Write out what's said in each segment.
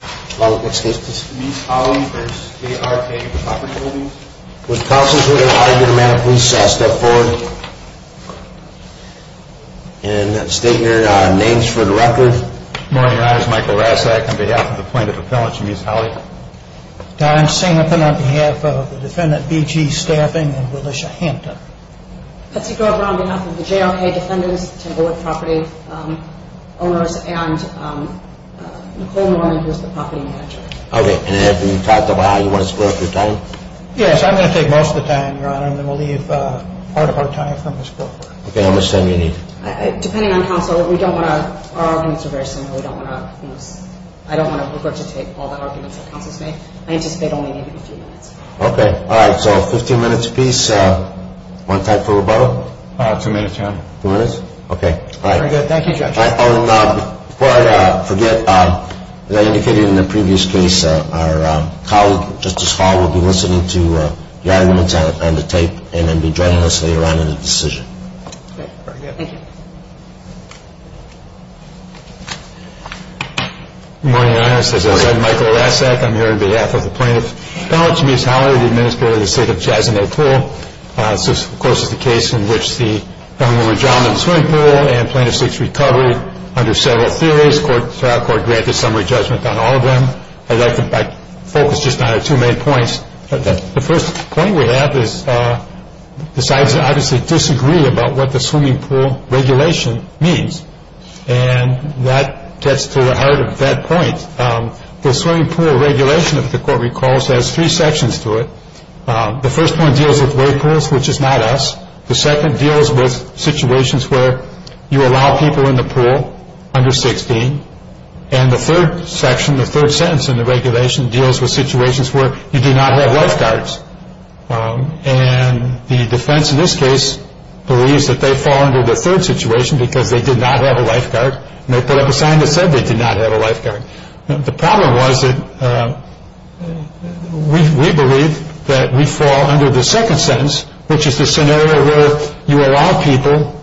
Was the prosecutor going to argue the amount of police step forward and state your names for the record? Morning Your Honor, this is Michael Rasak on behalf of the plaintiff appellants, Mies Holley. Don Singleton on behalf of the defendant BG Staffing and Willisha Hampton. Betsy Grover on behalf of the JRK Defendants, Timberwood Property Owners, and Nicole Norman who is the property manager. Okay, and have you talked about how you want to split up your time? Yes, I'm going to take most of the time, Your Honor, and then we'll leave part of our time for Ms. Grover. Okay, how much time do you need? Depending on counsel, we don't want to, our arguments are very similar. We don't want to, I don't want to revert to take all the arguments that counsel's made. I anticipate only maybe a few minutes. Okay, all right, so 15 minutes apiece. One time for rebuttal? Two minutes, Your Honor. Two minutes? Okay. All right. Thank you, Judge. Before I forget, as I indicated in the previous case, our colleague, Justice Hall, will be listening to your arguments on the tape and then be joining us later on in the decision. Okay, very good. Thank you. Good morning, Your Honor. As I said, Michael Lasek. I'm here on behalf of the Plaintiff's Counsel, James Howley, the Administrator of the State of Jasmine Pool. This, of course, is the case in which the Governor Johnson Swimming Pool and Plaintiff's Sixth Recovery under several theories, trial court granted summary judgment on all of them. I'd like to focus just on our two main points. The first point we have is the sides obviously disagree about what the swimming pool regulation means, and that gets to the heart of that point. The swimming pool regulation, if the Court recalls, has three sections to it. The first one deals with weight pools, which is not us. The second deals with situations where you allow people in the pool under 16. And the third section, the third sentence in the regulation, deals with situations where you do not have lifeguards. And the defense in this case believes that they fall under the third situation because they did not have a lifeguard, and they put up a sign that said they did not have a lifeguard. The problem was that we believe that we fall under the second sentence, which is the scenario where you allow people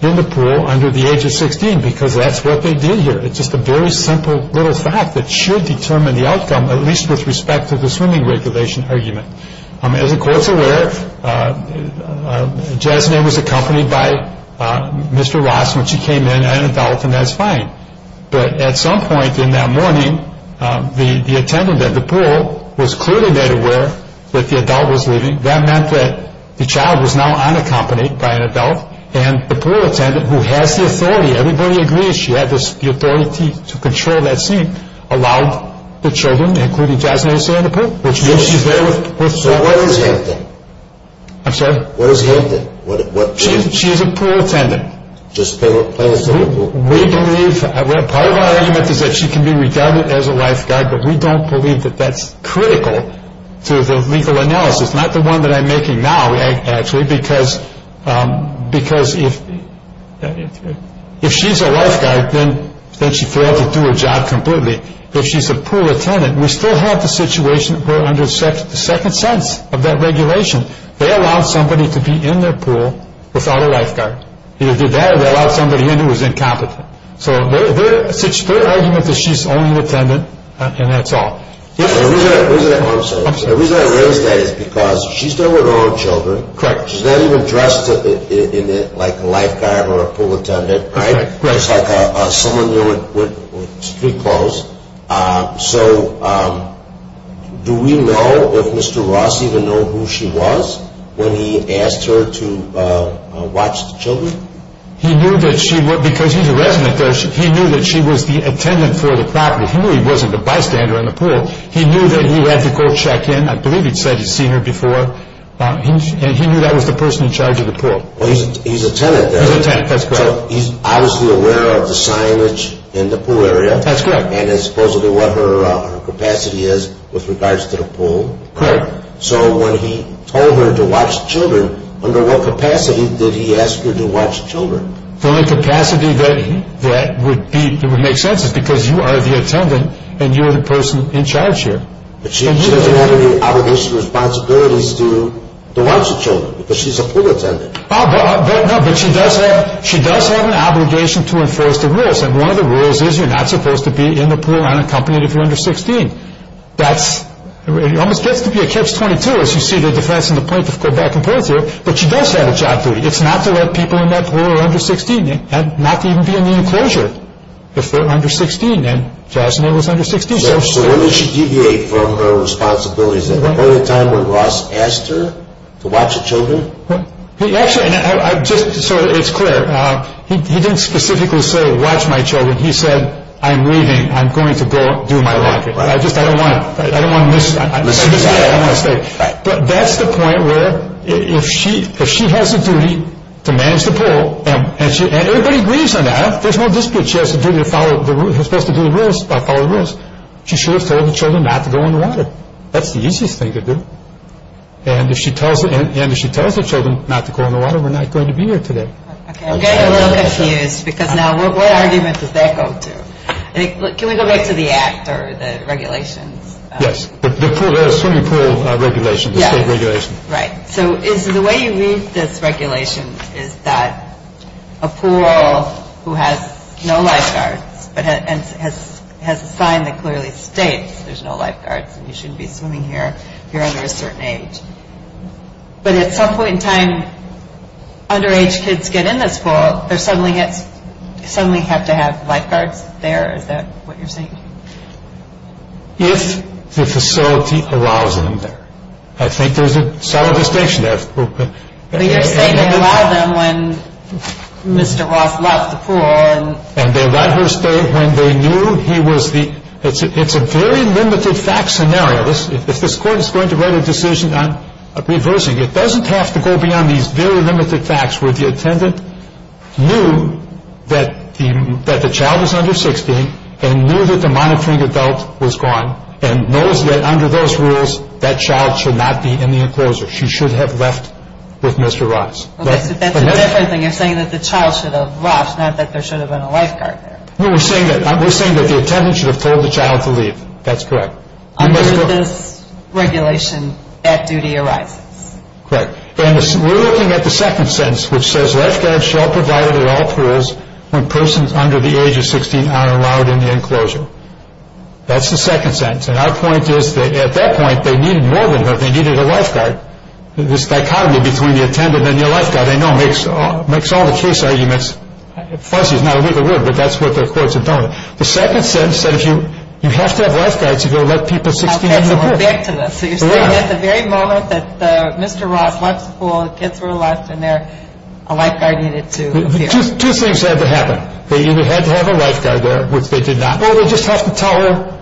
in the pool under the age of 16 because that's what they did here. It's just a very simple little fact that should determine the outcome, at least with respect to the swimming regulation argument. As the Court's aware, Jasmine was accompanied by Mr. Ross when she came in, an adult, and that's fine. But at some point in that morning, the attendant at the pool was clearly made aware that the adult was leaving. That meant that the child was now unaccompanied by an adult, and the pool attendant, who has the authority, everybody agrees she had the authority to control that scene, allowed the children, including Jasmine, to stay in the pool. So what is Hampton? I'm sorry? What is Hampton? She's a pool attendant. Just playing in the pool? Part of our argument is that she can be regarded as a lifeguard, but we don't believe that that's critical to the legal analysis. It's not the one that I'm making now, actually, because if she's a lifeguard, then she failed to do her job completely. If she's a pool attendant, we still have the situation where under the second sense of that regulation, they allowed somebody to be in their pool without a lifeguard. Either they did that or they allowed somebody in who was incompetent. So their argument is she's only an attendant, and that's all. The reason I raise that is because she's still with her own children. She's not even dressed like a lifeguard or a pool attendant, just like someone with street clothes. So do we know if Mr. Ross even knew who she was when he asked her to watch the children? Because he's a resident there, he knew that she was the attendant for the property. He knew he wasn't the bystander in the pool. He knew that he had to go check in. I believe he said he'd seen her before, and he knew that was the person in charge of the pool. He's a tenant there. He's a tenant, that's correct. So he's obviously aware of the signage in the pool area. That's correct. And supposedly what her capacity is with regards to the pool. Correct. So when he told her to watch children, under what capacity did he ask her to watch children? The only capacity that would make sense is because you are the attendant and you're the person in charge here. But she doesn't have any obligation or responsibilities to watch the children because she's a pool attendant. No, but she does have an obligation to enforce the rules, and one of the rules is you're not supposed to be in the pool unaccompanied if you're under 16. It almost gets to be a catch-22 as you see the defense in the point of go back and forth here, but she does have a job to do. It's not to let people in that pool who are under 16, not to even be in the enclosure if they're under 16, and Jasmine was under 16. So what did she deviate from her responsibilities then? Was there a time when Ross asked her to watch the children? Actually, so it's clear. He didn't specifically say watch my children. He said I'm leaving. I'm going to go do my laundry. I don't want to miss that. That's the point where if she has a duty to manage the pool, and everybody agrees on that, there's no dispute she has a duty to follow the rules. She should have told the children not to go in the water. That's the easiest thing to do. And if she tells the children not to go in the water, we're not going to be here today. I'm getting a little confused because now what argument does that go to? Can we go back to the act or the regulations? Yes, the swimming pool regulations. Right. So the way you read this regulation is that a pool who has no lifeguards and has a sign that clearly states there's no lifeguards and you shouldn't be swimming here if you're under a certain age. But at some point in time, underage kids get in this pool. They suddenly have to have lifeguards there. Is that what you're saying? If the facility allows them there. I think there's a solid distinction there. But you're saying they allowed them when Mr. Roth left the pool. And they let her stay when they knew he was the – it's a very limited fact scenario. If this Court is going to write a decision on reversing, it doesn't have to go beyond these very limited facts where the attendant knew that the child is under 16 and knew that the monitoring adult was gone and knows that under those rules that child should not be in the enclosure. She should have left with Mr. Roth. That's a different thing. You're saying that the child should have left, not that there should have been a lifeguard there. No, we're saying that the attendant should have told the child to leave. That's correct. Under this regulation, that duty arises. Correct. And we're looking at the second sentence, which says, That's the second sentence. And our point is that at that point, they needed more than her. They needed a lifeguard. This dichotomy between the attendant and the lifeguard, I know, makes all the case arguments fuzzy. It's not a legal word, but that's what the Court's intending. The second sentence said you have to have lifeguards if you're going to let people – Okay, so we're back to this. So you're saying at the very moment that Mr. Roth left the pool, the kids were left in there, a lifeguard needed to appear. Two things had to happen. They either had to have a lifeguard there, which they did not, or they just have to tell her,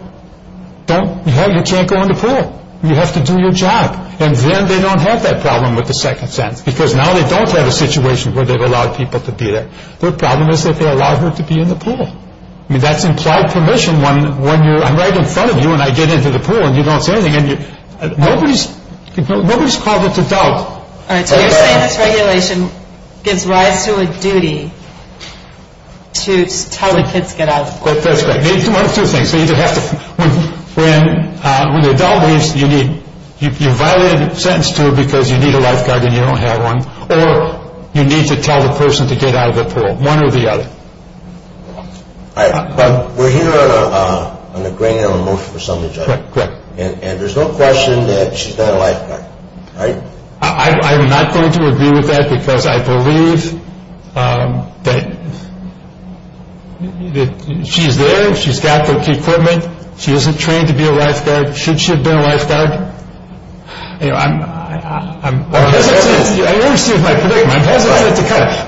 you can't go in the pool. You have to do your job. And then they don't have that problem with the second sentence, because now they don't have a situation where they've allowed people to be there. Their problem is that they allowed her to be in the pool. I mean, that's implied permission when you're – I'm right in front of you, and I get into the pool, and you don't say anything. Nobody's called it to doubt. All right, so you're saying this regulation gives rise to a duty to tell the kids to get out of the pool. That's correct. One of two things. They either have to – when the adult leaves, you need – you violated a sentence to her because you need a lifeguard and you don't have one, or you need to tell the person to get out of the pool, one or the other. But we're here on a grain of emotion for some of the judges. Correct. And there's no question that she's got a lifeguard, right? I'm not going to agree with that because I believe that she's there. She's got the equipment. She isn't trained to be a lifeguard. Should she have been a lifeguard? You know, I'm – I understand my predicament.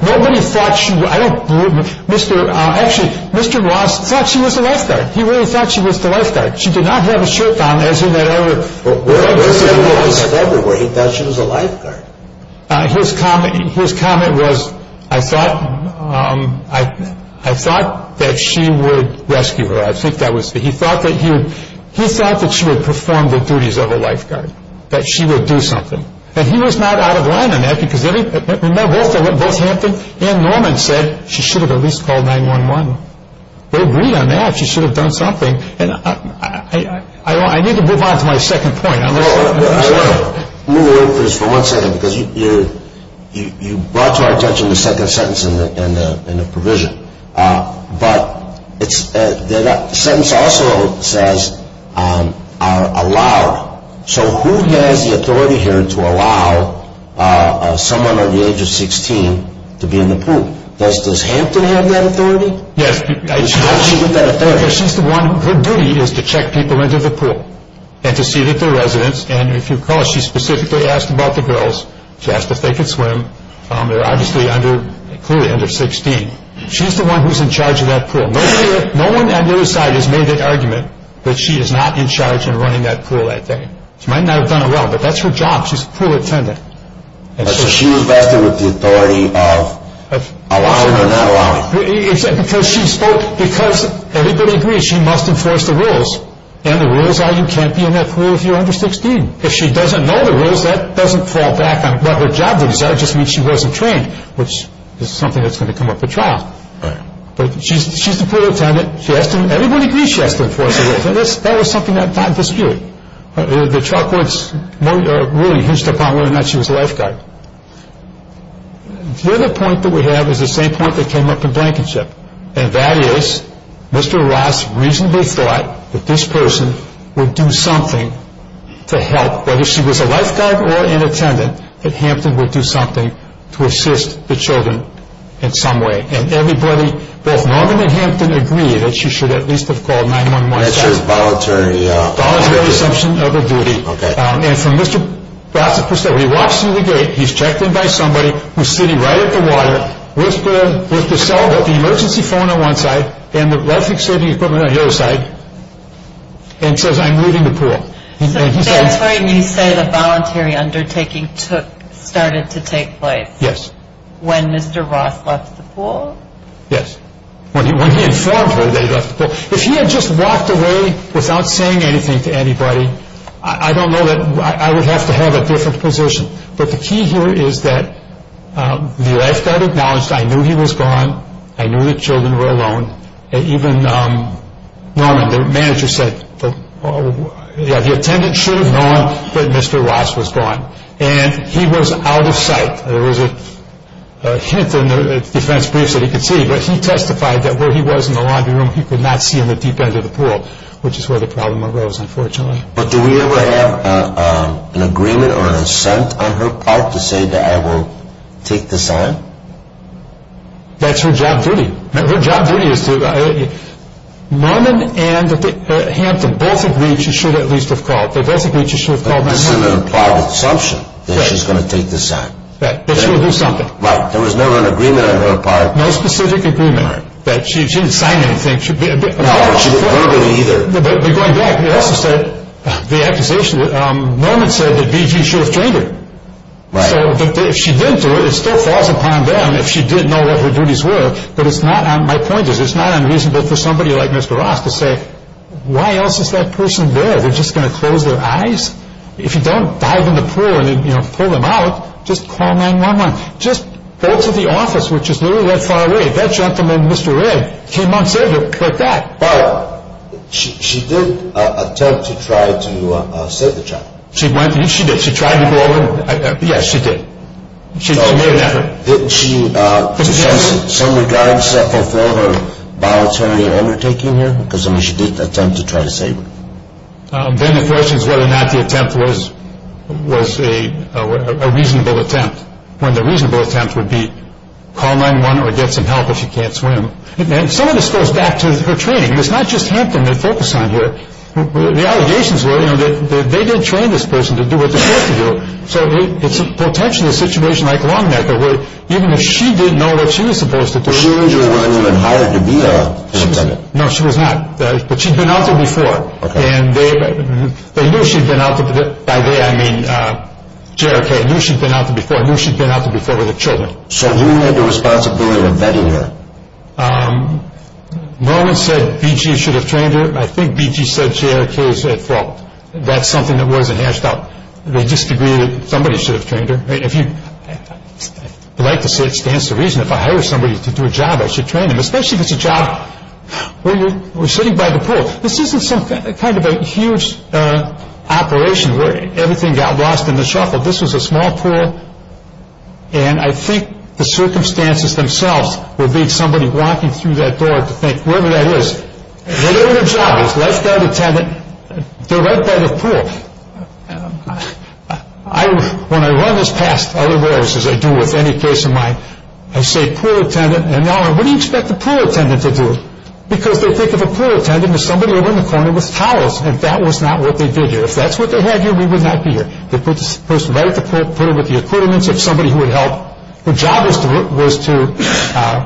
Nobody thought she – I don't believe – Mr. – actually, Mr. Ross thought she was a lifeguard. He really thought she was the lifeguard. She did not have a shirt on, as in that other – Well, where did he get that from? He thought she was a lifeguard. His comment was, I thought – I thought that she would rescue her. I think that was – he thought that he would – he thought that she would perform the duties of a lifeguard, that she would do something. And he was not out of line on that because both Hampton and Norman said she should have at least called 911. They agreed on that. She should have done something. I need to move on to my second point. Hold on. Let me interrupt this for one second because you brought to our attention the second sentence in the provision. But it's – the sentence also says allowed. So who has the authority here to allow someone under the age of 16 to be in the pool? Does Hampton have that authority? Yes. Why does she have that authority? Because she's the one – her duty is to check people into the pool and to see that they're residents. And if you recall, she specifically asked about the girls. She asked if they could swim. They're obviously under – clearly under 16. She's the one who's in charge of that pool. Nobody – no one on the other side has made that argument that she is not in charge and running that pool that day. She might not have done it well, but that's her job. She's a pool attendant. So she was vested with the authority of allowing or not allowing. Because she spoke – because everybody agrees she must enforce the rules. And the rules are you can't be in that pool if you're under 16. If she doesn't know the rules, that doesn't fall back on what her job is. That would just mean she wasn't trained, which is something that's going to come up at trial. Right. But she's the pool attendant. She has to – everybody agrees she has to enforce the rules. And that was something that died this year. The trial courts really hinged upon whether or not she was a lifeguard. The other point that we have is the same point that came up in Blankenship, and that is Mr. Ross reasonably thought that this person would do something to help. Whether she was a lifeguard or an attendant, that Hampton would do something to assist the children in some way. And everybody, both Norman and Hampton, agree that she should at least have called 9-1-1. That's just voluntary. Voluntary assumption of a duty. Okay. And from Mr. Ross' perspective, he walks through the gate, he's checked in by somebody, who's sitting right at the water with the cell, with the emergency phone on one side and the life-saving equipment on the other side, and says, I'm leaving the pool. So that's when you say the voluntary undertaking started to take place. Yes. When Mr. Ross left the pool? Yes. When he informed her that he left the pool. If he had just walked away without saying anything to anybody, I don't know that I would have to have a different position. But the key here is that the lifeguard acknowledged, I knew he was gone, I knew the children were alone, and even Norman, the manager said, the attendant should have known that Mr. Ross was gone. And he was out of sight. There was a hint in the defense briefs that he could see, but he testified that where he was in the laundry room, he could not see in the deep end of the pool, which is where the problem arose, unfortunately. But do we ever have an agreement or an assent on her part to say that I will take the sign? That's her job duty. Her job duty is to, Norman and Hampton both agreed she should at least have called. They both agreed she should have called. But this is an implied assumption that she's going to take the sign. That she will do something. Right. There was never an agreement on her part. No specific agreement. Right. That she didn't sign anything. No, she didn't call anybody either. But going back, he also said, the accusation, Norman said that BG should have trained her. Right. So if she didn't do it, it still falls upon them, if she did know what her duties were, that it's not on, my point is, it's not unreasonable for somebody like Mr. Ross to say, why else is that person there? They're just going to close their eyes? If you don't dive in the pool and pull them out, just call 911. Just go to the office, which is literally that far away. That gentleman, Mr. Ray, came on saber like that. But she did attempt to try to save the child. She went and she did. She tried to go over. Yes, she did. She made an effort. Did she, to some regard, suffer for her voluntary overtaking here? Because, I mean, she did attempt to try to save him. Then the question is whether or not the attempt was a reasonable attempt, when the reasonable attempt would be, call 911 or get some help if you can't swim. And some of this goes back to her training. It's not just Hampton they focus on here. The allegations were, you know, that they didn't train this person to do what they're supposed to do. So it's potentially a situation like Longnecker, where even if she didn't know what she was supposed to do. So she wasn't even hired to be a lieutenant? No, she was not. But she'd been out there before. Okay. And they knew she'd been out there before. By they I mean J.R.K. Knew she'd been out there before. Knew she'd been out there before with her children. So who had the responsibility of vetting her? Longnecker said B.G. should have trained her. I think B.G. said J.R.K. said, well, that's something that wasn't hashed out. They just agreed that somebody should have trained her. I'd like to say it stands to reason, if I hire somebody to do a job, I should train them. Especially if it's a job where you're sitting by the pool. This isn't some kind of a huge operation where everything got lost in the shuffle. This was a small pool. And I think the circumstances themselves were being somebody walking through that door to think, whatever that is, whatever the job is, lifeguard, attendant, they're right by the pool. When I run this past other warehouses I do with any case of mine, I say, Norman, what do you expect the pool attendant to do? Because they think of a pool attendant as somebody over in the corner with towels. And that was not what they did here. If that's what they had here, we would not be here. They put the person right at the pool, put her with the accordance of somebody who would help. Her job was to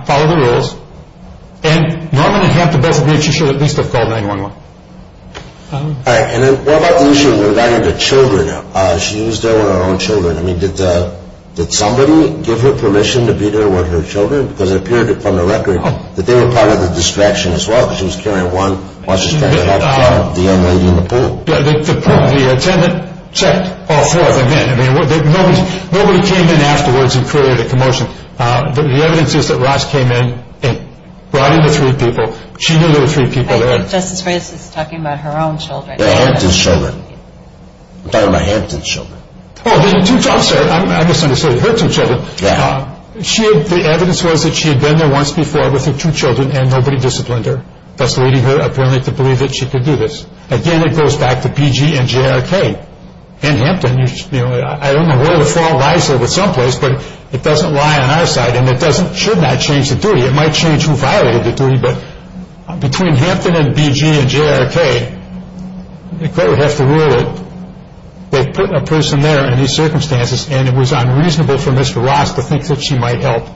follow the rules. And, Norman, you have the best of luck. You should at least have called 911. All right. And then what about the issue regarding the children? She was there with her own children. I mean, did somebody give her permission to be there with her children? Because it appeared from the record that they were part of the distraction as well, because she was carrying one while she was trying to help the young lady in the pool. Yeah, the attendant checked all four of them in. I mean, nobody came in afterwards and created a commotion. The evidence is that Ross came in and brought in the three people. She knew there were three people there. I think Justice Freitas is talking about her own children. Yeah, Hampton's children. I'm talking about Hampton's children. Oh, her two children. I misunderstood. Her two children. Yeah. The evidence was that she had been there once before with her two children, and nobody disciplined her, thus leading her apparently to believe that she could do this. Again, it goes back to BG and JRK. And Hampton. I don't know where the flaw lies there with some place, but it doesn't lie on our side, and it should not change the duty. It might change who violated the duty, but between Hampton and BG and JRK, the court would have to rule that they put a person there in these circumstances, and it was unreasonable for Mr. Ross to think that she might help.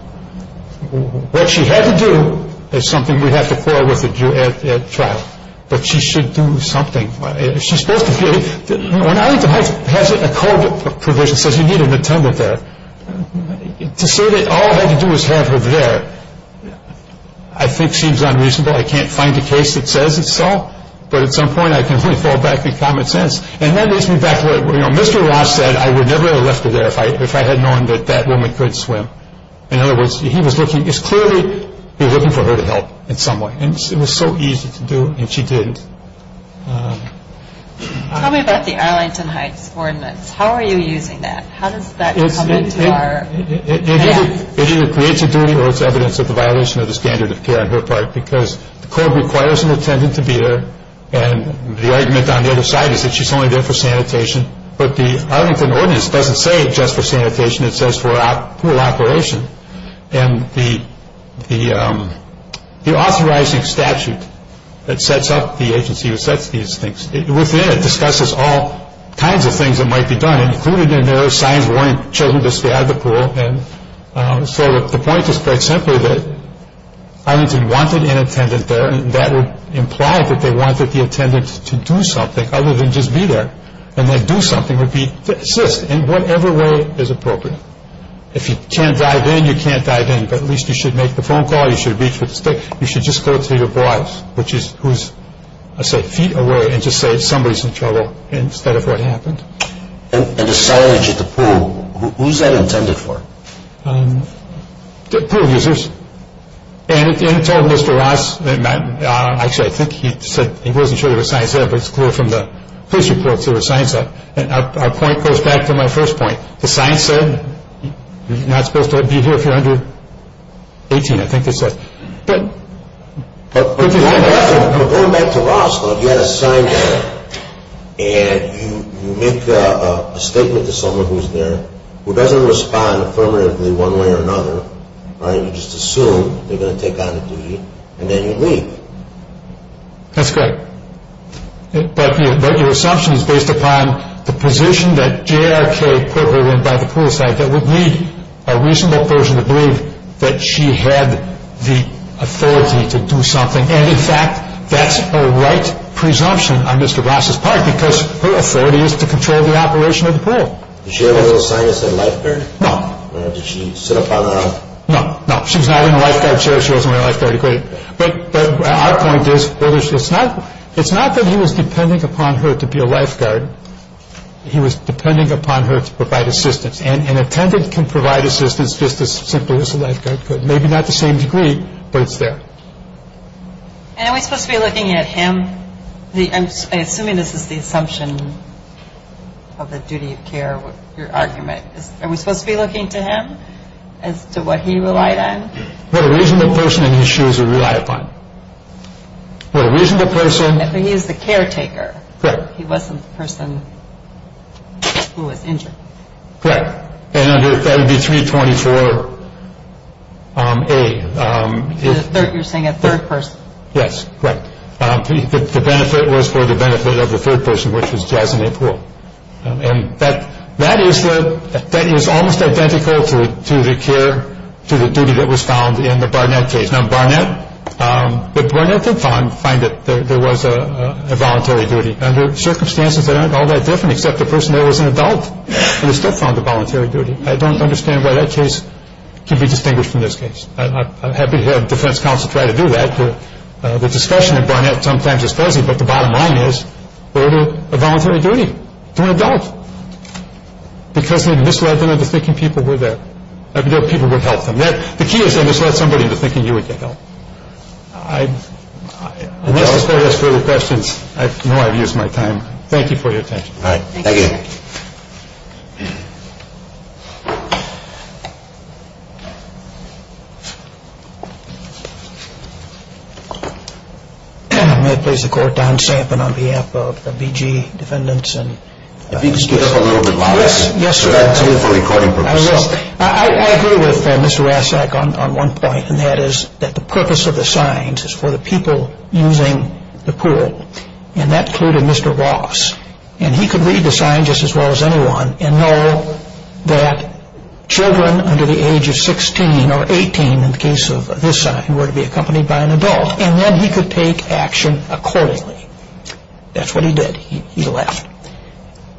What she had to do is something we'd have to quarrel with at trial. But she should do something. She's supposed to be. When Arlington Heights has a code provision that says you need an attendant there, to say that all I had to do was have her there I think seems unreasonable. I can't find a case that says it's so, but at some point I can only fall back in common sense. And that leads me back to what Mr. Ross said. I would never have left her there if I had known that that woman could swim. In other words, he was clearly looking for her to help in some way. And it was so easy to do, and she didn't. Tell me about the Arlington Heights ordinance. How are you using that? How does that come into our hands? It either creates a duty or it's evidence of the violation of the standard of care on her part because the code requires an attendant to be there. And the argument on the other side is that she's only there for sanitation. But the Arlington ordinance doesn't say just for sanitation. It says for a pool operation. And the authorizing statute that sets up the agency that sets these things, within it discusses all kinds of things that might be done, included in there are signs warning children to stay out of the pool. So the point is quite simply that Arlington wanted an attendant there, and that would imply that they wanted the attendant to do something other than just be there. And that do something would be to assist in whatever way is appropriate. If you can't dive in, you can't dive in. But at least you should make the phone call. You should reach for the stick. You should just go to your boss, who's, I say, feet away, and just say somebody's in trouble instead of what happened. And the signage at the pool, who's that intended for? Pool users. And it told Mr. Ross, actually I think he said, he wasn't sure there was signs there, but it's clear from the police reports there were signs there. And our point goes back to my first point. The signs said you're not supposed to be here if you're under 18, I think they said. But going back to Ross, you had a sign there, and you make a statement to someone who's there who doesn't respond affirmatively one way or another. You just assume they're going to take on a duty, and then you leave. That's correct. But your assumption is based upon the position that J.R.K. put her in by the poolside that would lead a reasonable person to believe that she had the authority to do something. And, in fact, that's a right presumption on Mr. Ross's part because her authority is to control the operation of the pool. Did she have a little sign that said lifeguard? No. Did she sit up on her own? No, no. She was not in a lifeguard chair. She wasn't in a lifeguard equipment. But our point is, it's not that he was depending upon her to be a lifeguard. He was depending upon her to provide assistance. And an attendant can provide assistance just as simply as a lifeguard could. Maybe not to the same degree, but it's there. And are we supposed to be looking at him? I'm assuming this is the assumption of the duty of care, your argument. Are we supposed to be looking to him as to what he relied on? What a reasonable person in his shoes would rely upon. What a reasonable person... But he was the caretaker. Correct. He wasn't the person who was injured. Correct. And that would be 324A. You're saying a third person. Yes. Correct. The benefit was for the benefit of the third person, which was Jasmine Poole. And that is almost identical to the care, to the duty that was found in the Barnett case. The Barnett did find that there was a voluntary duty. Under circumstances that aren't all that different, except the person there was an adult. And they still found a voluntary duty. I don't understand why that case can be distinguished from this case. I'm happy to have defense counsel try to do that. The discussion in Barnett sometimes is fuzzy, but the bottom line is, they're doing a voluntary duty to an adult. Because they misled them into thinking people were there. People would help them. The key is they misled somebody into thinking you would get help. I'm just going to ask further questions. I know I've used my time. Thank you for your attention. All right. Thank you. May I please the Court, Don Sampson, on behalf of the BG defendants. If you could speak up a little bit louder. Yes, sir. That's good for recording purposes. I agree with Mr. Rassak on one point. And that is that the purpose of the signs is for the people using the pool. And that clued to Mr. Ross. And he could read the sign just as well as anyone and know that children under the age of 16 or 18, in the case of this sign, were to be accompanied by an adult. And then he could take action accordingly. That's what he did. He left.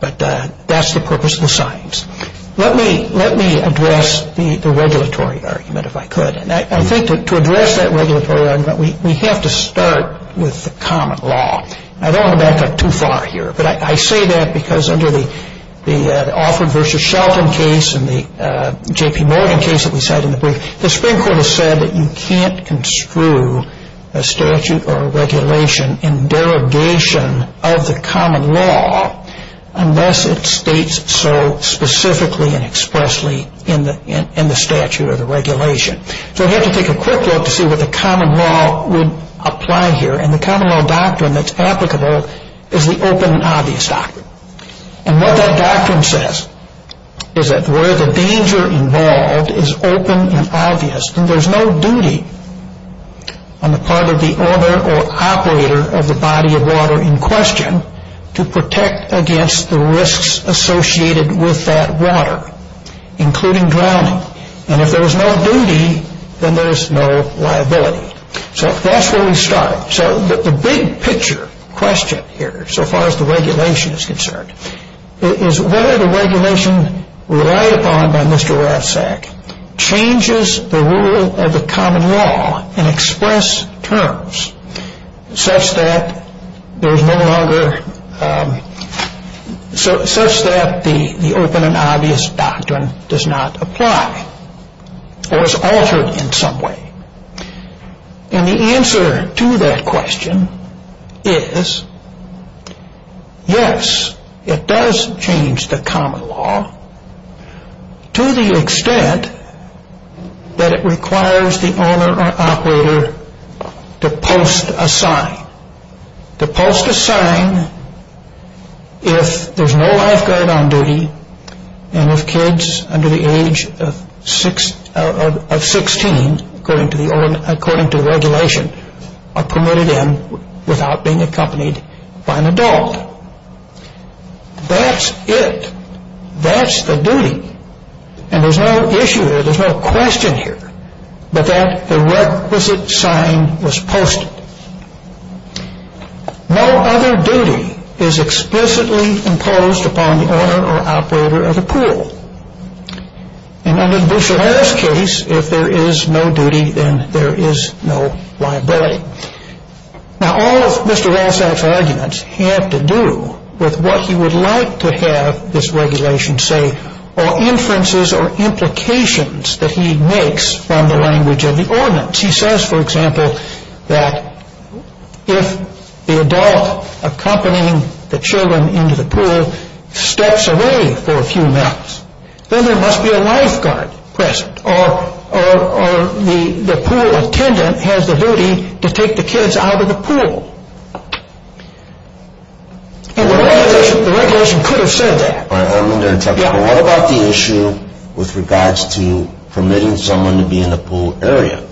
But that's the purpose of the signs. Let me address the regulatory argument, if I could. And I think to address that regulatory argument, we have to start with the common law. I don't want to back up too far here. But I say that because under the Offred v. Shelton case and the J.P. Morgan case that we cited in the brief, the Supreme Court has said that you can't construe a statute or a regulation in derogation of the common law unless it states so specifically and expressly in the statute or the regulation. So we have to take a quick look to see what the common law would apply here. And the common law doctrine that's applicable is the open and obvious doctrine. And what that doctrine says is that where the danger involved is open and obvious. And there's no duty on the part of the owner or operator of the body of water in question to protect against the risks associated with that water, including drowning. And if there is no duty, then there is no liability. So that's where we start. So the big picture question here, so far as the regulation is concerned, is whether the regulation relied upon by Mr. Rathsack changes the rule of the common law and express terms such that there is no longer, such that the open and obvious doctrine does not apply or is altered in some way. And the answer to that question is yes, it does change the common law to the extent that it requires the owner or operator to post a sign. To post a sign if there's no lifeguard on duty and if kids under the age of 16, according to the regulation, are permitted in without being accompanied by an adult. That's it. That's the duty. And there's no issue there. There's no question here. But that requisite sign was posted. No other duty is explicitly imposed upon the owner or operator of the pool. And under the Bush and Harris case, if there is no duty, then there is no liability. Now all of Mr. Rathsack's arguments have to do with what he would like to have this regulation say or inferences or implications that he makes from the language of the ordinance. He says, for example, that if the adult accompanying the children into the pool steps away for a few minutes, then there must be a lifeguard present or the pool attendant has the duty to take the kids out of the pool. And the regulation could have said that. What about the issue with regards to permitting someone to be in the pool area?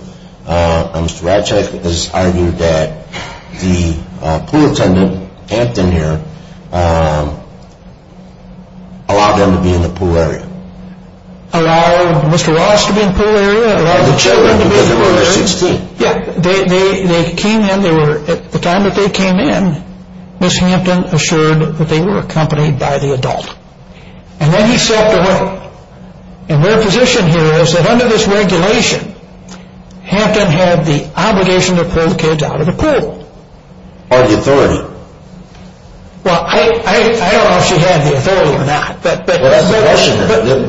Mr. Rathsack has argued that the pool attendant, Hampton here, allowed them to be in the pool area. Allowed Mr. Rathsack to be in the pool area? Allowed the children to be in the pool area? Because they were under 16. Yeah. They came in. At the time that they came in, Ms. Hampton assured that they were accompanied by the adult. And then he stepped away. And their position here is that under this regulation, Hampton had the obligation to pull the kids out of the pool. Or the authority. Well, I don't know if she had the authority or not.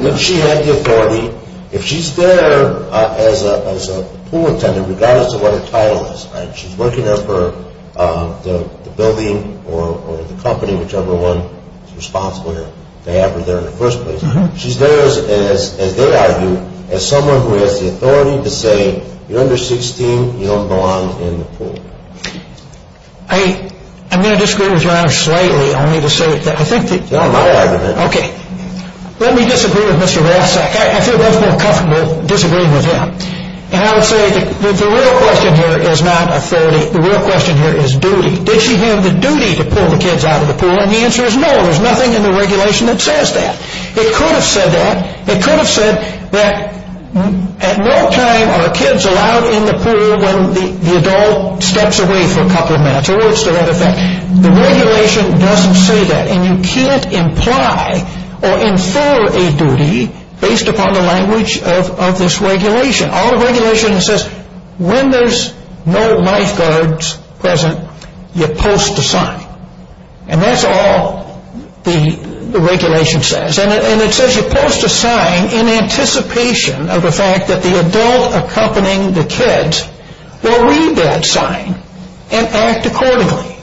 When she had the authority, if she's there as a pool attendant, regardless of what her title is, she's working for the building or the company, whichever one is responsible to have her there in the first place, she's there, as they argue, as someone who has the authority to say, you're under 16, you don't belong in the pool. I'm going to disagree with your honor slightly, only to say that I think that Okay. Let me disagree with Mr. Rathsack. I feel much more comfortable disagreeing with him. And I would say that the real question here is not authority. The real question here is duty. Did she have the duty to pull the kids out of the pool? And the answer is no. There's nothing in the regulation that says that. It could have said that. It could have said that at no time are kids allowed in the pool when the adult steps away for a couple of minutes. The regulation doesn't say that. And you can't imply or infer a duty based upon the language of this regulation. All the regulation says, when there's no lifeguards present, you post a sign. And that's all the regulation says. And it says you post a sign in anticipation of the fact that the adult accompanying the kids will read that sign and act accordingly.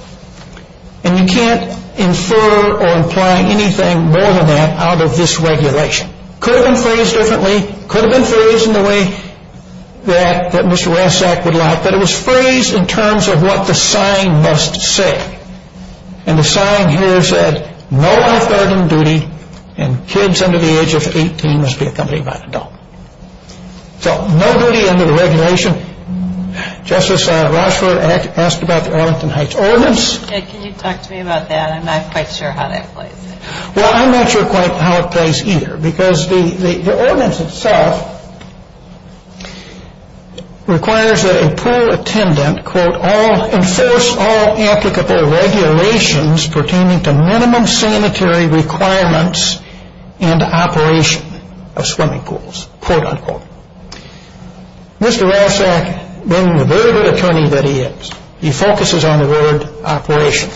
And you can't infer or imply anything more than that out of this regulation. It could have been phrased differently. It could have been phrased in the way that Mr. Rathsack would like. But it was phrased in terms of what the sign must say. And the sign here said, no lifeguard in duty and kids under the age of 18 must be accompanied by an adult. So, no duty under the regulation. Justice Rochefort asked about the Arlington Heights Ordinance. Can you talk to me about that? I'm not quite sure how that plays. Well, I'm not sure quite how it plays either. Because the ordinance itself requires that a pool attendant, quote, enforce all applicable regulations pertaining to minimum sanitary requirements and operation of swimming pools, quote, unquote. Mr. Rathsack, being the very good attorney that he is, he focuses on the word operation.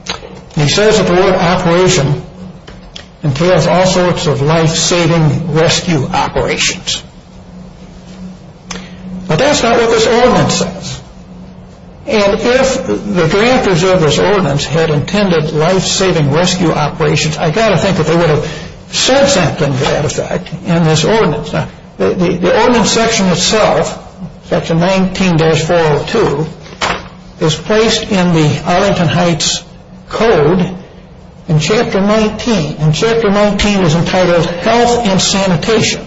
And he says that the word operation entails all sorts of life-saving rescue operations. But that's not what this ordinance says. And if the drafters of this ordinance had intended life-saving rescue operations, I've got to think that they would have said something to that effect in this ordinance. The ordinance section itself, section 19-402, is placed in the Arlington Heights Code in chapter 19. And chapter 19 is entitled Health and Sanitation.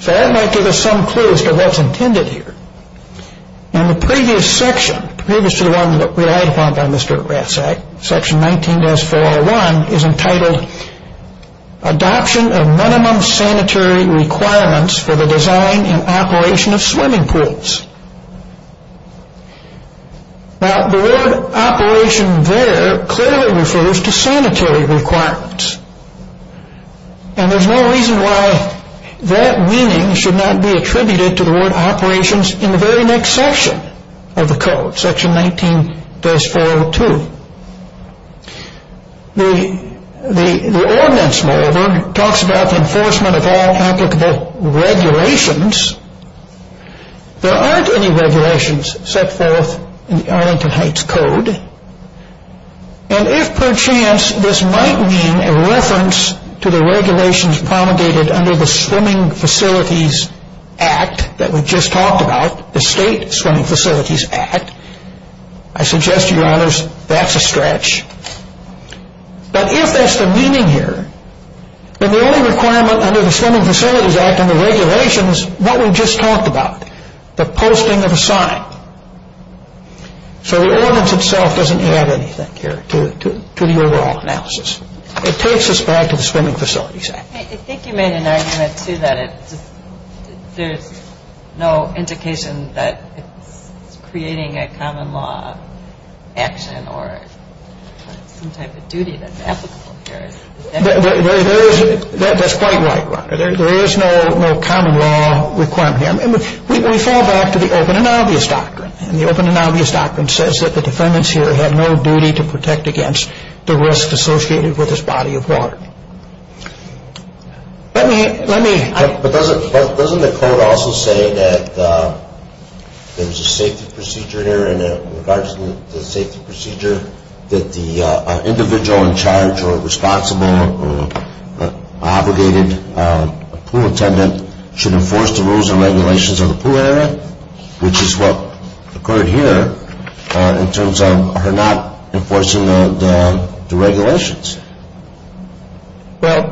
So that might give us some clues to what's intended here. In the previous section, previously one relied upon by Mr. Rathsack, section 19-401, is entitled Adoption of Minimum Sanitary Requirements for the Design and Operation of Swimming Pools. Now, the word operation there clearly refers to sanitary requirements. And there's no reason why that meaning should not be attributed to the word operations in the very next section of the code, section 19-402. The ordinance, moreover, talks about the enforcement of all applicable regulations. There aren't any regulations set forth in the Arlington Heights Code. And if perchance this might mean a reference to the regulations promulgated under the Swimming Facilities Act that we just talked about, the State Swimming Facilities Act, I suggest, Your Honors, that's a stretch. But if that's the meaning here, then the only requirement under the Swimming Facilities Act and the regulations, what we just talked about, the posting of a sign. So the ordinance itself doesn't add anything here to the overall analysis. It takes us back to the Swimming Facilities Act. I think you made an argument, too, that there's no indication that it's creating a common law action or some type of duty that's applicable here. That's quite right, Rhonda. There is no common law requirement here. We fall back to the open and obvious doctrine. And the open and obvious doctrine says that the defendants here have no duty to protect against the risk associated with this body of water. But doesn't the code also say that there's a safety procedure here in regards to the safety procedure that the individual in charge or responsible or obligated pool attendant should enforce the rules and regulations of the pool area, which is what occurred here in terms of her not enforcing the regulations? Well,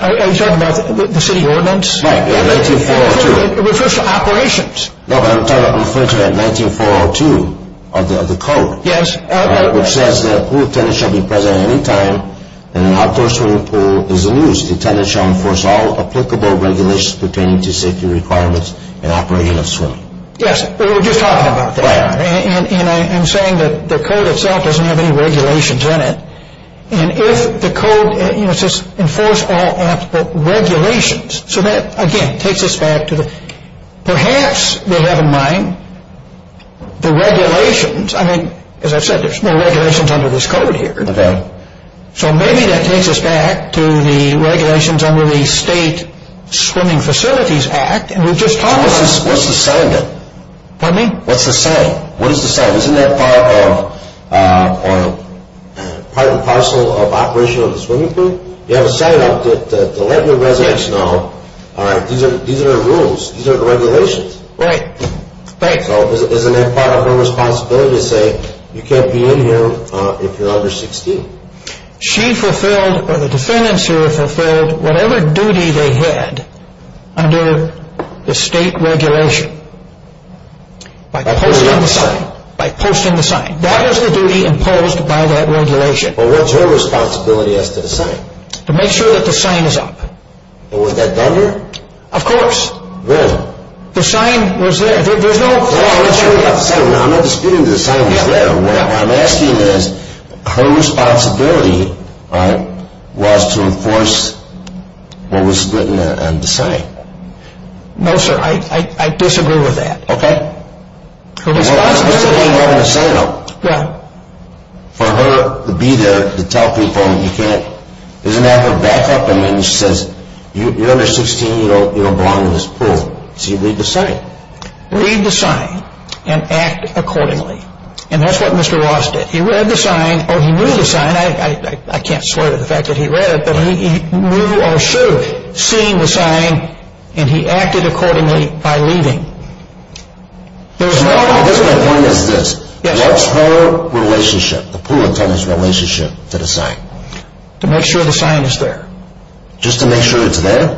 are you talking about the city ordinance? Right, in 19-402. It refers to operations. No, but I'm referring to 19-402 of the code. Yes. Which says that a pool attendant shall be present at any time and an outdoor swimming pool is in use. The attendant shall enforce all applicable regulations pertaining to safety requirements in operating a swimming pool. Yes, we were just talking about that. Right. And I'm saying that the code itself doesn't have any regulations in it. And if the code, you know, it says enforce all regulations. So that, again, takes us back to perhaps we have in mind the regulations. I mean, as I've said, there's no regulations under this code here. Okay. So maybe that takes us back to the regulations under the State Swimming Facilities Act, and we've just talked about that. What's the sign then? Pardon me? What's the sign? What is the sign? Isn't that part of the parcel of operation of the swimming pool? You have a sign up to let your residents know, all right, these are the rules. These are the regulations. Right. Thanks. So isn't that part of her responsibility to say you can't be in here if you're under 16? She fulfilled or the defendants here fulfilled whatever duty they had under the state regulation by posting the sign. By posting the sign. That is the duty imposed by that regulation. Well, what's her responsibility as to the sign? To make sure that the sign is up. And was that done here? Of course. When? No. The sign was there. I'm not disputing that the sign was there. What I'm asking is, her responsibility was to enforce what was written on the sign. No, sir. I disagree with that. Okay. Her responsibility. Well, I'm supposed to be having the sign up. Yeah. For her to be there to tell people you can't. Isn't that her backup? I mean, she says, you're under 16, you don't belong in this pool. So you leave the sign. Leave the sign and act accordingly. And that's what Mr. Ross did. He read the sign, or he knew the sign. I can't swear to the fact that he read it. But he knew or should have seen the sign and he acted accordingly by leaving. That's my point is this. What's her relationship, the pool attendant's relationship to the sign? To make sure the sign is there. Just to make sure it's there?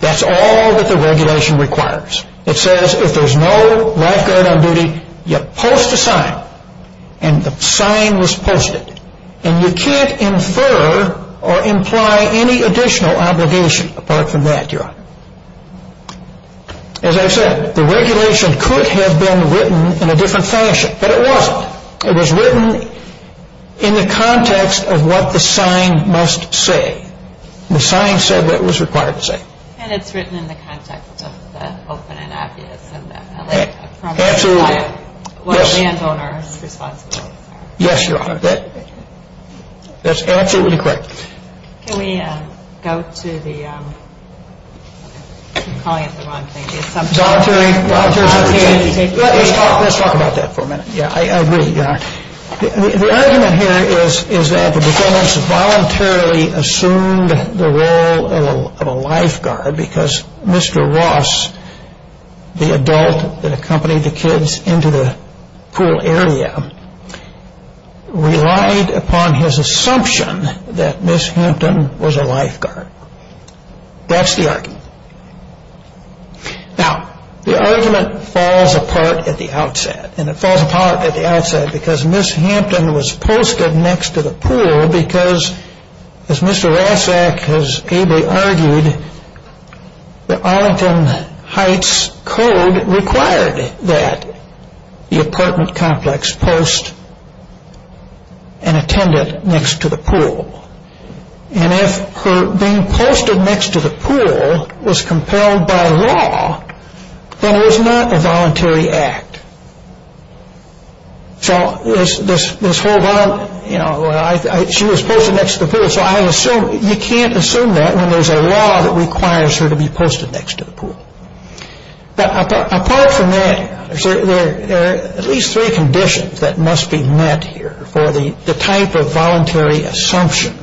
That's all that the regulation requires. It says if there's no lifeguard on duty, you post a sign. And the sign was posted. And you can't infer or imply any additional obligation apart from that, Your Honor. As I said, the regulation could have been written in a different fashion. But it wasn't. It was written in the context of what the sign must say. The sign said what it was required to say. And it's written in the context of the open and obvious. Absolutely. What landowner's responsibilities are. Yes, Your Honor. That's absolutely correct. Can we go to the, I'm calling it the wrong thing. Let's talk about that for a minute. Yeah, I agree, Your Honor. The argument here is that the defendants voluntarily assumed the role of a lifeguard because Mr. Ross, the adult that accompanied the kids into the pool area, relied upon his assumption that Ms. Hampton was a lifeguard. That's the argument. Now, the argument falls apart at the outset. And it falls apart at the outset because Ms. Hampton was posted next to the pool because, as Mr. Rassak has ably argued, the Arlington Heights Code required that the apartment complex post an attendant next to the pool. And if her being posted next to the pool was compelled by law, then it was not a voluntary act. So this whole, you know, she was posted next to the pool, so you can't assume that when there's a law that requires her to be posted next to the pool. But apart from that, there are at least three conditions that must be met here for the type of voluntary assumption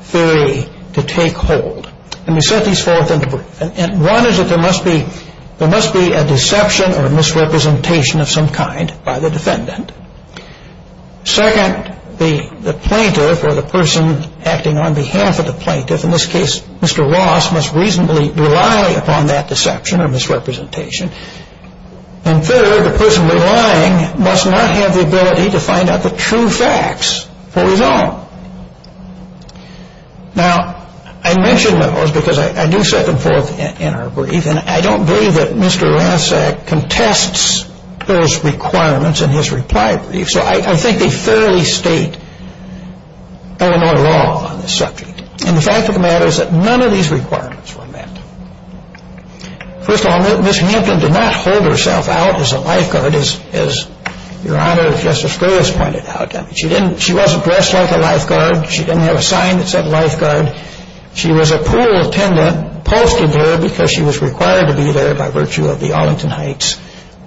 theory to take hold. And we set these forth in the brief. One is that there must be a deception or misrepresentation of some kind by the defendant. Second, the plaintiff or the person acting on behalf of the plaintiff, in this case Mr. Ross, must reasonably rely upon that deception or misrepresentation. And third, the person relying must not have the ability to find out the true facts for his own. Now, I mention those because I do set them forth in our brief, and I don't believe that Mr. Rassak contests those requirements in his reply brief. So I think they fairly state Illinois law on this subject. And the fact of the matter is that none of these requirements were met. First of all, Ms. Hampton did not hold herself out as a lifeguard, as Your Honor, Justice Gray has pointed out. She wasn't dressed like a lifeguard. She didn't have a sign that said lifeguard. She was a pool attendant posted there because she was required to be there by virtue of the Arlington Heights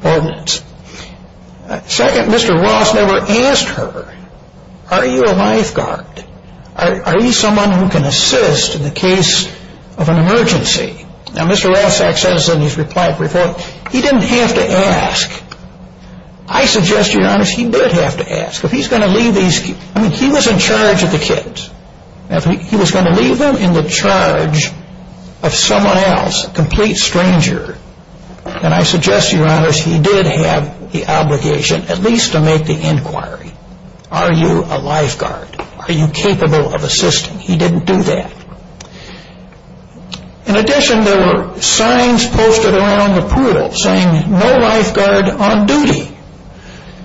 ordinance. Second, Mr. Ross never asked her, are you a lifeguard? Are you someone who can assist in the case of an emergency? Now, Mr. Rassak says in his reply brief, he didn't have to ask. I suggest, Your Honor, he did have to ask. If he's going to leave these kids, I mean, he was in charge of the kids. He was going to leave them in the charge of someone else, a complete stranger. And I suggest, Your Honor, he did have the obligation at least to make the inquiry. Are you a lifeguard? Are you capable of assisting? He didn't do that. In addition, there were signs posted around the pool saying no lifeguard on duty.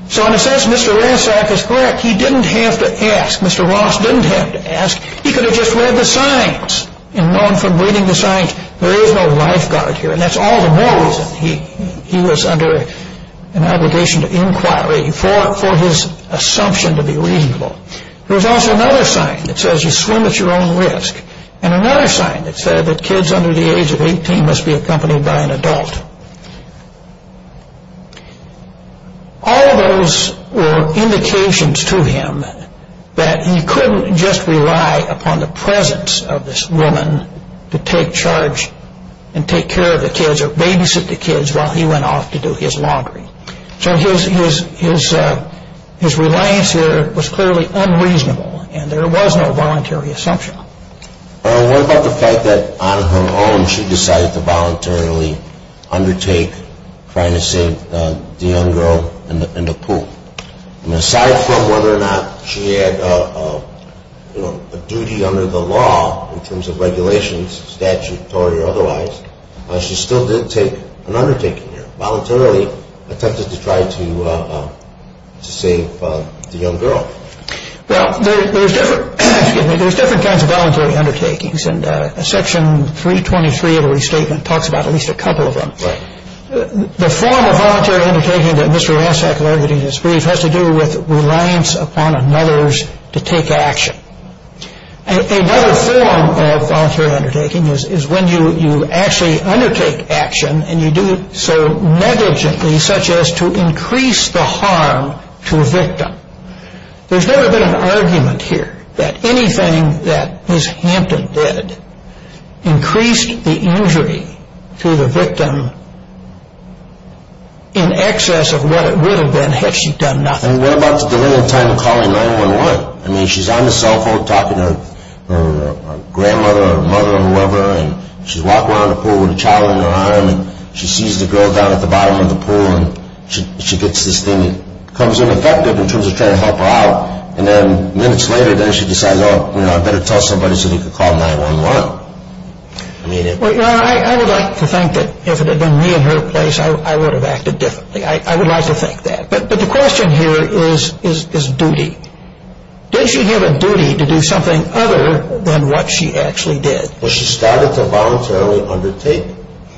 So in a sense, Mr. Rassak is correct. He didn't have to ask. Mr. Ross didn't have to ask. He could have just read the signs and known from reading the signs there is no lifeguard here. And that's all the more reason he was under an obligation to inquiry for his assumption to be reasonable. There was also another sign that says you swim at your own risk. And another sign that said that kids under the age of 18 must be accompanied by an adult. All of those were indications to him that he couldn't just rely upon the presence of this woman to take charge and take care of the kids or babysit the kids while he went off to do his laundry. So his reliance here was clearly unreasonable and there was no voluntary assumption. What about the fact that on her own she decided to voluntarily undertake trying to save the young girl in the pool? Aside from whether or not she had a duty under the law in terms of regulations, statutory or otherwise, she still did take an undertaking here, voluntarily attempted to try to save the young girl. Well, there's different kinds of voluntary undertakings. And Section 323 of the restatement talks about at least a couple of them. The form of voluntary undertaking that Mr. Ross had alluded to in his brief has to do with reliance upon another's to take action. Another form of voluntary undertaking is when you actually undertake action and you do so negligently, such as to increase the harm to a victim. There's never been an argument here that anything that Ms. Hampton did increased the injury to the victim in excess of what it would have been had she done nothing. And what about the delay in time of calling 911? I mean, she's on the cell phone talking to her grandmother or mother or whoever and she's walking around the pool with a child in her arm and she sees the girl down at the bottom of the pool and she gets this thing that comes in effective in terms of trying to help her out. And then minutes later, then she decides, oh, I better tell somebody so they can call 911. I would like to think that if it had been me in her place, I would have acted differently. I would like to think that. But the question here is duty. Did she have a duty to do something other than what she actually did? Well, she started to voluntarily undertake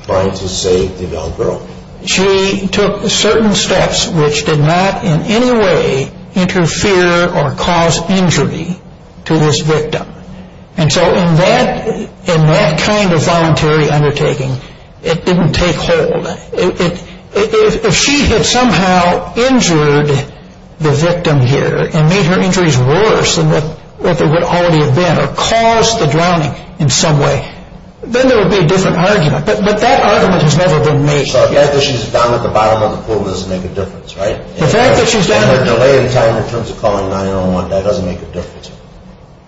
trying to save the young girl. She took certain steps which did not in any way interfere or cause injury to this victim. And so in that kind of voluntary undertaking, it didn't take hold. If she had somehow injured the victim here and made her injuries worse than what they would already have been or caused the drowning in some way, then there would be a different argument. But that argument has never been made. So the fact that she's down at the bottom of the pool doesn't make a difference, right? The fact that she's down at the bottom. And her delay in time in terms of calling 911, that doesn't make a difference.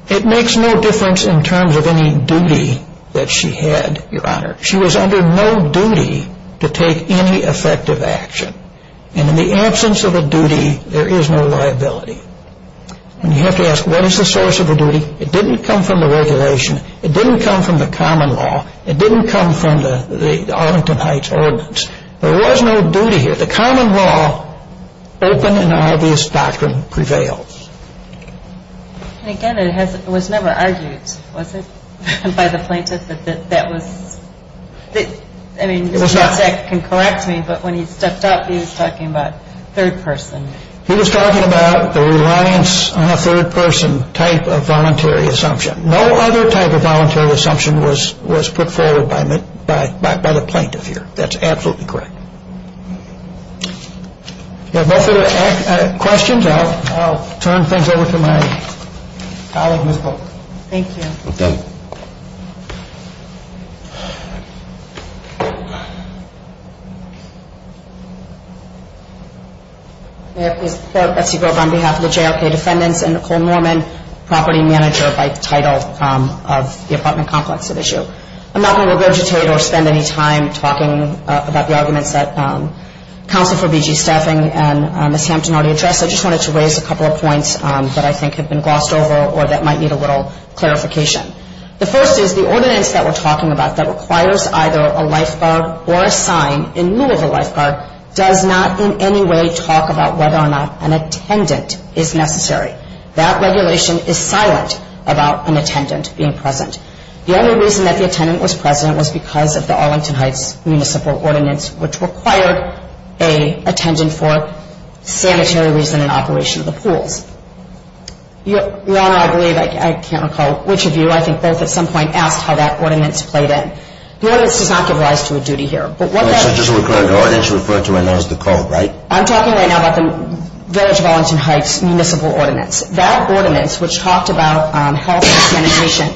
It makes no difference in terms of any duty that she had, Your Honor. She was under no duty to take any effective action. And in the absence of a duty, there is no liability. And you have to ask, what is the source of the duty? It didn't come from the regulation. It didn't come from the common law. It didn't come from the Arlington Heights Ordinance. There was no duty here. The common law, open and obvious doctrine, prevails. And again, it was never argued, was it, by the plaintiff that that was? I mean, you can correct me, but when he stepped up, he was talking about third person. He was talking about the reliance on a third person type of voluntary assumption. No other type of voluntary assumption was put forward by the plaintiff here. That's absolutely correct. If you have no further questions, I'll turn things over to my colleague, Ms. Polk. Thank you. Thank you. May I please report, Betsy Grove, on behalf of the JRK defendants and Nicole Norman, property manager by title of the apartment complex at issue. I'm not going to regurgitate or spend any time talking about the arguments that Counsel for BG Staffing and Ms. Hampton already addressed. I just wanted to raise a couple of points that I think have been glossed over or that might need a little clarification. The first is the ordinance that we're talking about that requires either a lifeguard or a sign in the middle of a lifeguard does not in any way talk about whether or not an attendant is necessary. That regulation is silent about an attendant being present. The only reason that the attendant was present was because of the Arlington Heights Municipal Ordinance, which required an attendant for sanitary reason and operation of the pools. Your Honor, I believe, I can't recall which of you, I think both at some point, asked how that ordinance played in. The ordinance does not give rise to a duty here. Wait, so I didn't just refer to my nose to call, right? I'm talking right now about the Village of Arlington Heights Municipal Ordinance. That ordinance, which talked about health and sanitation,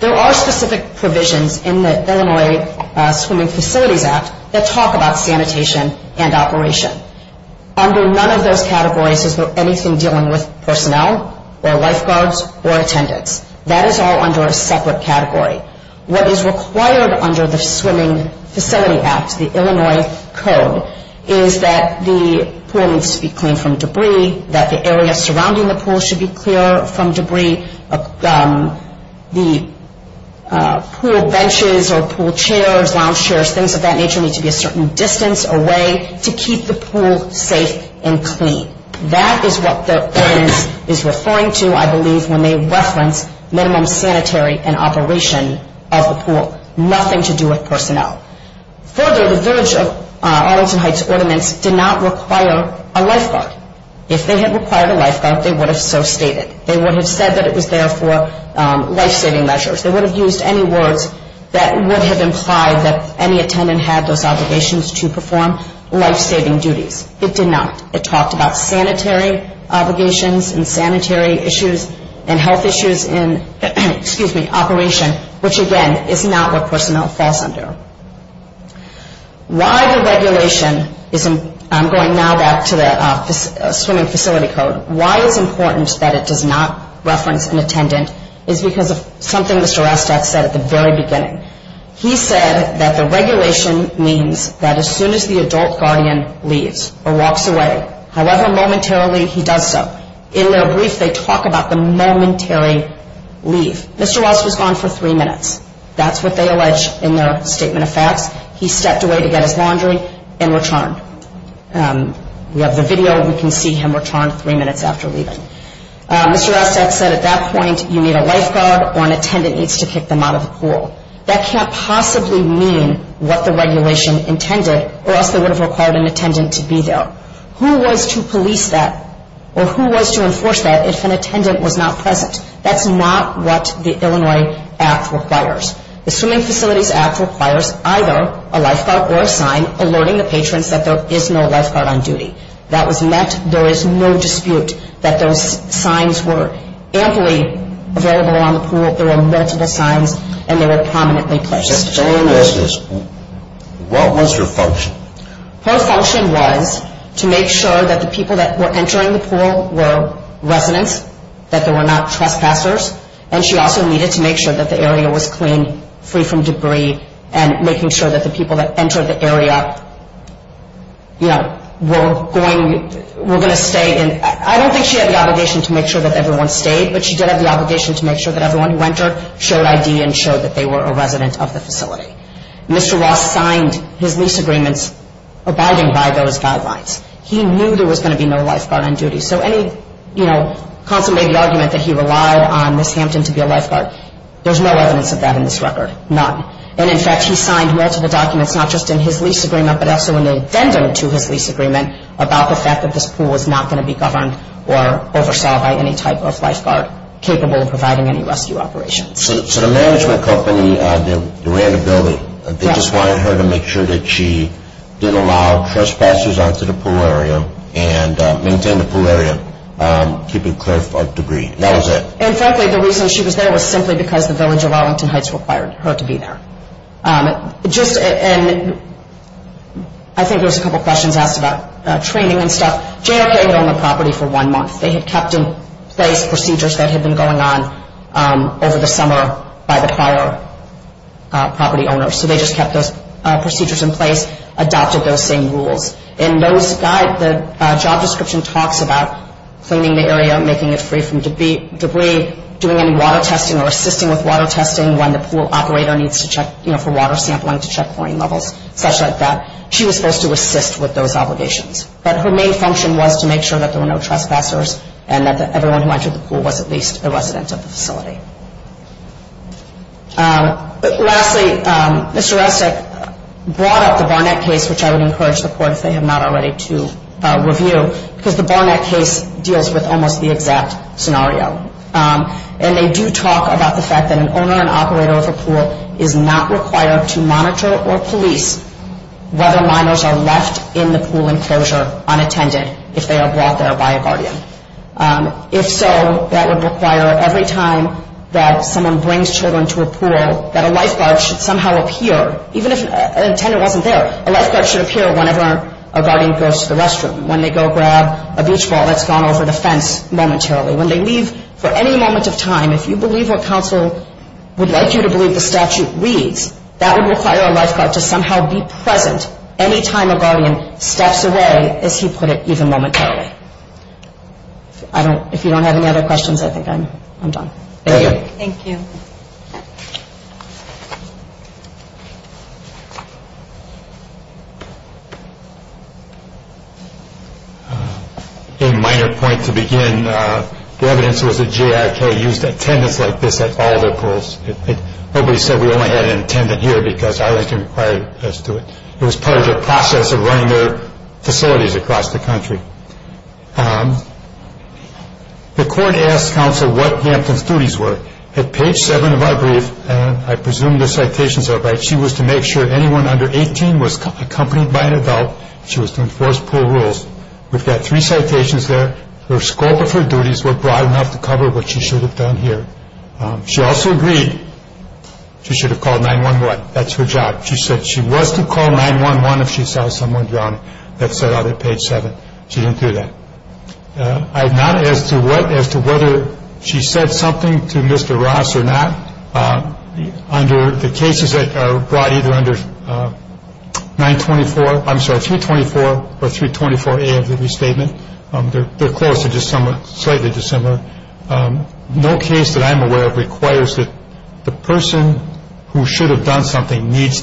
there are specific provisions in the Illinois Swimming Facilities Act that talk about sanitation and operation. Under none of those categories is there anything dealing with personnel or lifeguards or attendants. That is all under a separate category. What is required under the Swimming Facilities Act, the Illinois Code, is that the pool needs to be cleaned from debris, that the area surrounding the pool should be clear from debris, the pool benches or pool chairs, lounge chairs, things of that nature need to be a certain distance away to keep the pool safe and clean. That is what the ordinance is referring to, I believe, when they reference minimum sanitary and operation of the pool. Nothing to do with personnel. Further, the Village of Arlington Heights Ordinance did not require a lifeguard. If they had required a lifeguard, they would have so stated. They would have said that it was there for lifesaving measures. They would have used any words that would have implied that any attendant had those obligations to perform lifesaving duties. It did not. It talked about sanitary obligations and sanitary issues and health issues in, excuse me, operation, which again is not what personnel falls under. Why the regulation is, I'm going now back to the Swimming Facility Code, why it's important that it does not reference an attendant is because of something Mr. Estat said at the very beginning. He said that the regulation means that as soon as the adult guardian leaves or walks away, however momentarily he does so, in their brief they talk about the momentary leave. Mr. Estat was gone for three minutes. That's what they allege in their statement of facts. He stepped away to get his laundry and returned. We have the video. We can see him return three minutes after leaving. Mr. Estat said at that point you need a lifeguard or an attendant needs to kick them out of the pool. That can't possibly mean what the regulation intended or else they would have required an attendant to be there. Who was to police that or who was to enforce that if an attendant was not present? That's not what the Illinois Act requires. The Swimming Facilities Act requires either a lifeguard or a sign alerting the patrons that there is no lifeguard on duty. That was met. There is no dispute that those signs were amply available on the pool. There were multiple signs and they were prominently placed. What was her function? Her function was to make sure that the people that were entering the pool were residents, that they were not trespassers, and she also needed to make sure that the area was clean, free from debris, and making sure that the people that entered the area were going to stay. I don't think she had the obligation to make sure that everyone stayed, but she did have the obligation to make sure that everyone who entered showed ID and showed that they were a resident of the facility. Mr. Ross signed his lease agreements abiding by those guidelines. He knew there was going to be no lifeguard on duty. So any, you know, consulate made the argument that he relied on Ms. Hampton to be a lifeguard. There's no evidence of that in this record, none. And, in fact, he signed multiple documents, not just in his lease agreement, but also in addendum to his lease agreement about the fact that this pool was not going to be governed or oversaw by any type of lifeguard capable of providing any rescue operations. So the management company that ran the building, they just wanted her to make sure that she didn't allow trespassers onto the pool area and maintain the pool area, keep it clear for debris. And that was it. And, frankly, the reason she was there was simply because the village of Arlington Heights required her to be there. Just, and I think there was a couple questions asked about training and stuff. JRK owned the property for one month. They had kept in place procedures that had been going on over the summer by the prior property owners. So they just kept those procedures in place, adopted those same rules. And those guide, the job description talks about cleaning the area, making it free from debris, doing any water testing or assisting with water testing when the pool operator needs to check, you know, for water sampling to check pouring levels, stuff like that. She was supposed to assist with those obligations. But her main function was to make sure that there were no trespassers and that everyone who entered the pool was at least a resident of the facility. Lastly, Mr. Resnick brought up the Barnett case, which I would encourage the court, if they have not already, to review, because the Barnett case deals with almost the exact scenario. And they do talk about the fact that an owner and operator of a pool is not required to monitor or police whether minors are left in the pool enclosure unattended if they are brought there by a guardian. If so, that would require every time that someone brings children to a pool that a lifeguard should somehow appear, even if an attendant wasn't there. A lifeguard should appear whenever a guardian goes to the restroom, when they go grab a beach ball that's gone over the fence momentarily, when they leave for any moment of time. If you believe what counsel would like you to believe the statute reads, that would require a lifeguard to somehow be present any time a guardian steps away, as he put it, even momentarily. If you don't have any other questions, I think I'm done. Thank you. Thank you. A minor point to begin. The evidence was that JIK used attendants like this at all their pools. Nobody said we only had an attendant here because I was required to do it. It was part of the process of running their facilities across the country. The court asked counsel what the attendant's duties were. At page 7 of our brief, and I presume the citations are right, she was to make sure anyone under 18 was accompanied by an adult. She was to enforce pool rules. We've got three citations there. The scope of her duties were broad enough to cover what she should have done here. She also agreed she should have called 911. That's her job. She said she was to call 911 if she saw someone drowning. That's set out at page 7. She didn't do that. As to whether she said something to Mr. Ross or not, under the cases that are brought either under 924, I'm sorry, 324 or 324A of the restatement, they're close, they're just slightly dissimilar. No case that I'm aware of requires that the person who should have done something needs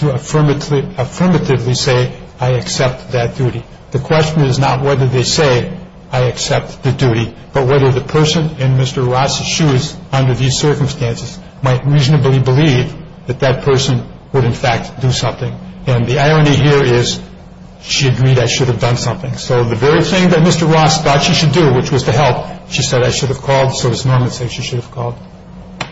to affirmatively say, I accept that duty. The question is not whether they say, I accept the duty, but whether the person in Mr. Ross's shoes under these circumstances might reasonably believe that that person would, in fact, do something. And the irony here is she agreed I should have done something. So the very thing that Mr. Ross thought she should do, which was to help, she said I should have called, so it's normal to say she should have called.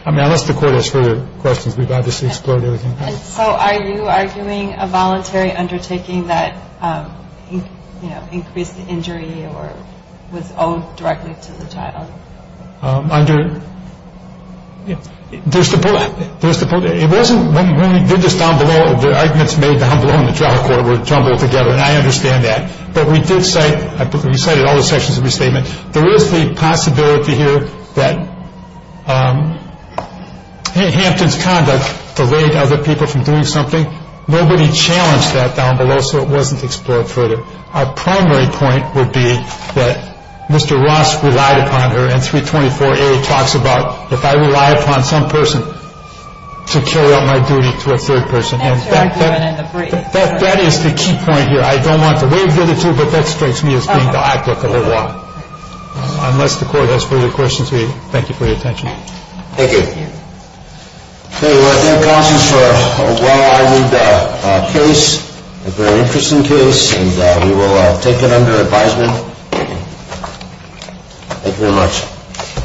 I mean, unless the court has further questions, we've obviously explored everything. So are you arguing a voluntary undertaking that, you know, increased the injury or was owed directly to the child? There's the point. It wasn't when we did this down below, the arguments made down below in the trial court were tumbled together, and I understand that. But we did cite, we cited all the sections of the statement. There is the possibility here that Hampton's conduct delayed other people from doing something. Nobody challenged that down below, so it wasn't explored further. Our primary point would be that Mr. Ross relied upon her, and 324A talks about if I rely upon some person to carry out my duty to a third person. And that is the key point here. I don't want to wave it at you, but that strikes me as being the eyecock of the law. Unless the court has further questions, we thank you for your attention. Thank you. Thank you. Thank you, counsel, for a well-armed case, a very interesting case, and we will take it under advisement. Thank you very much.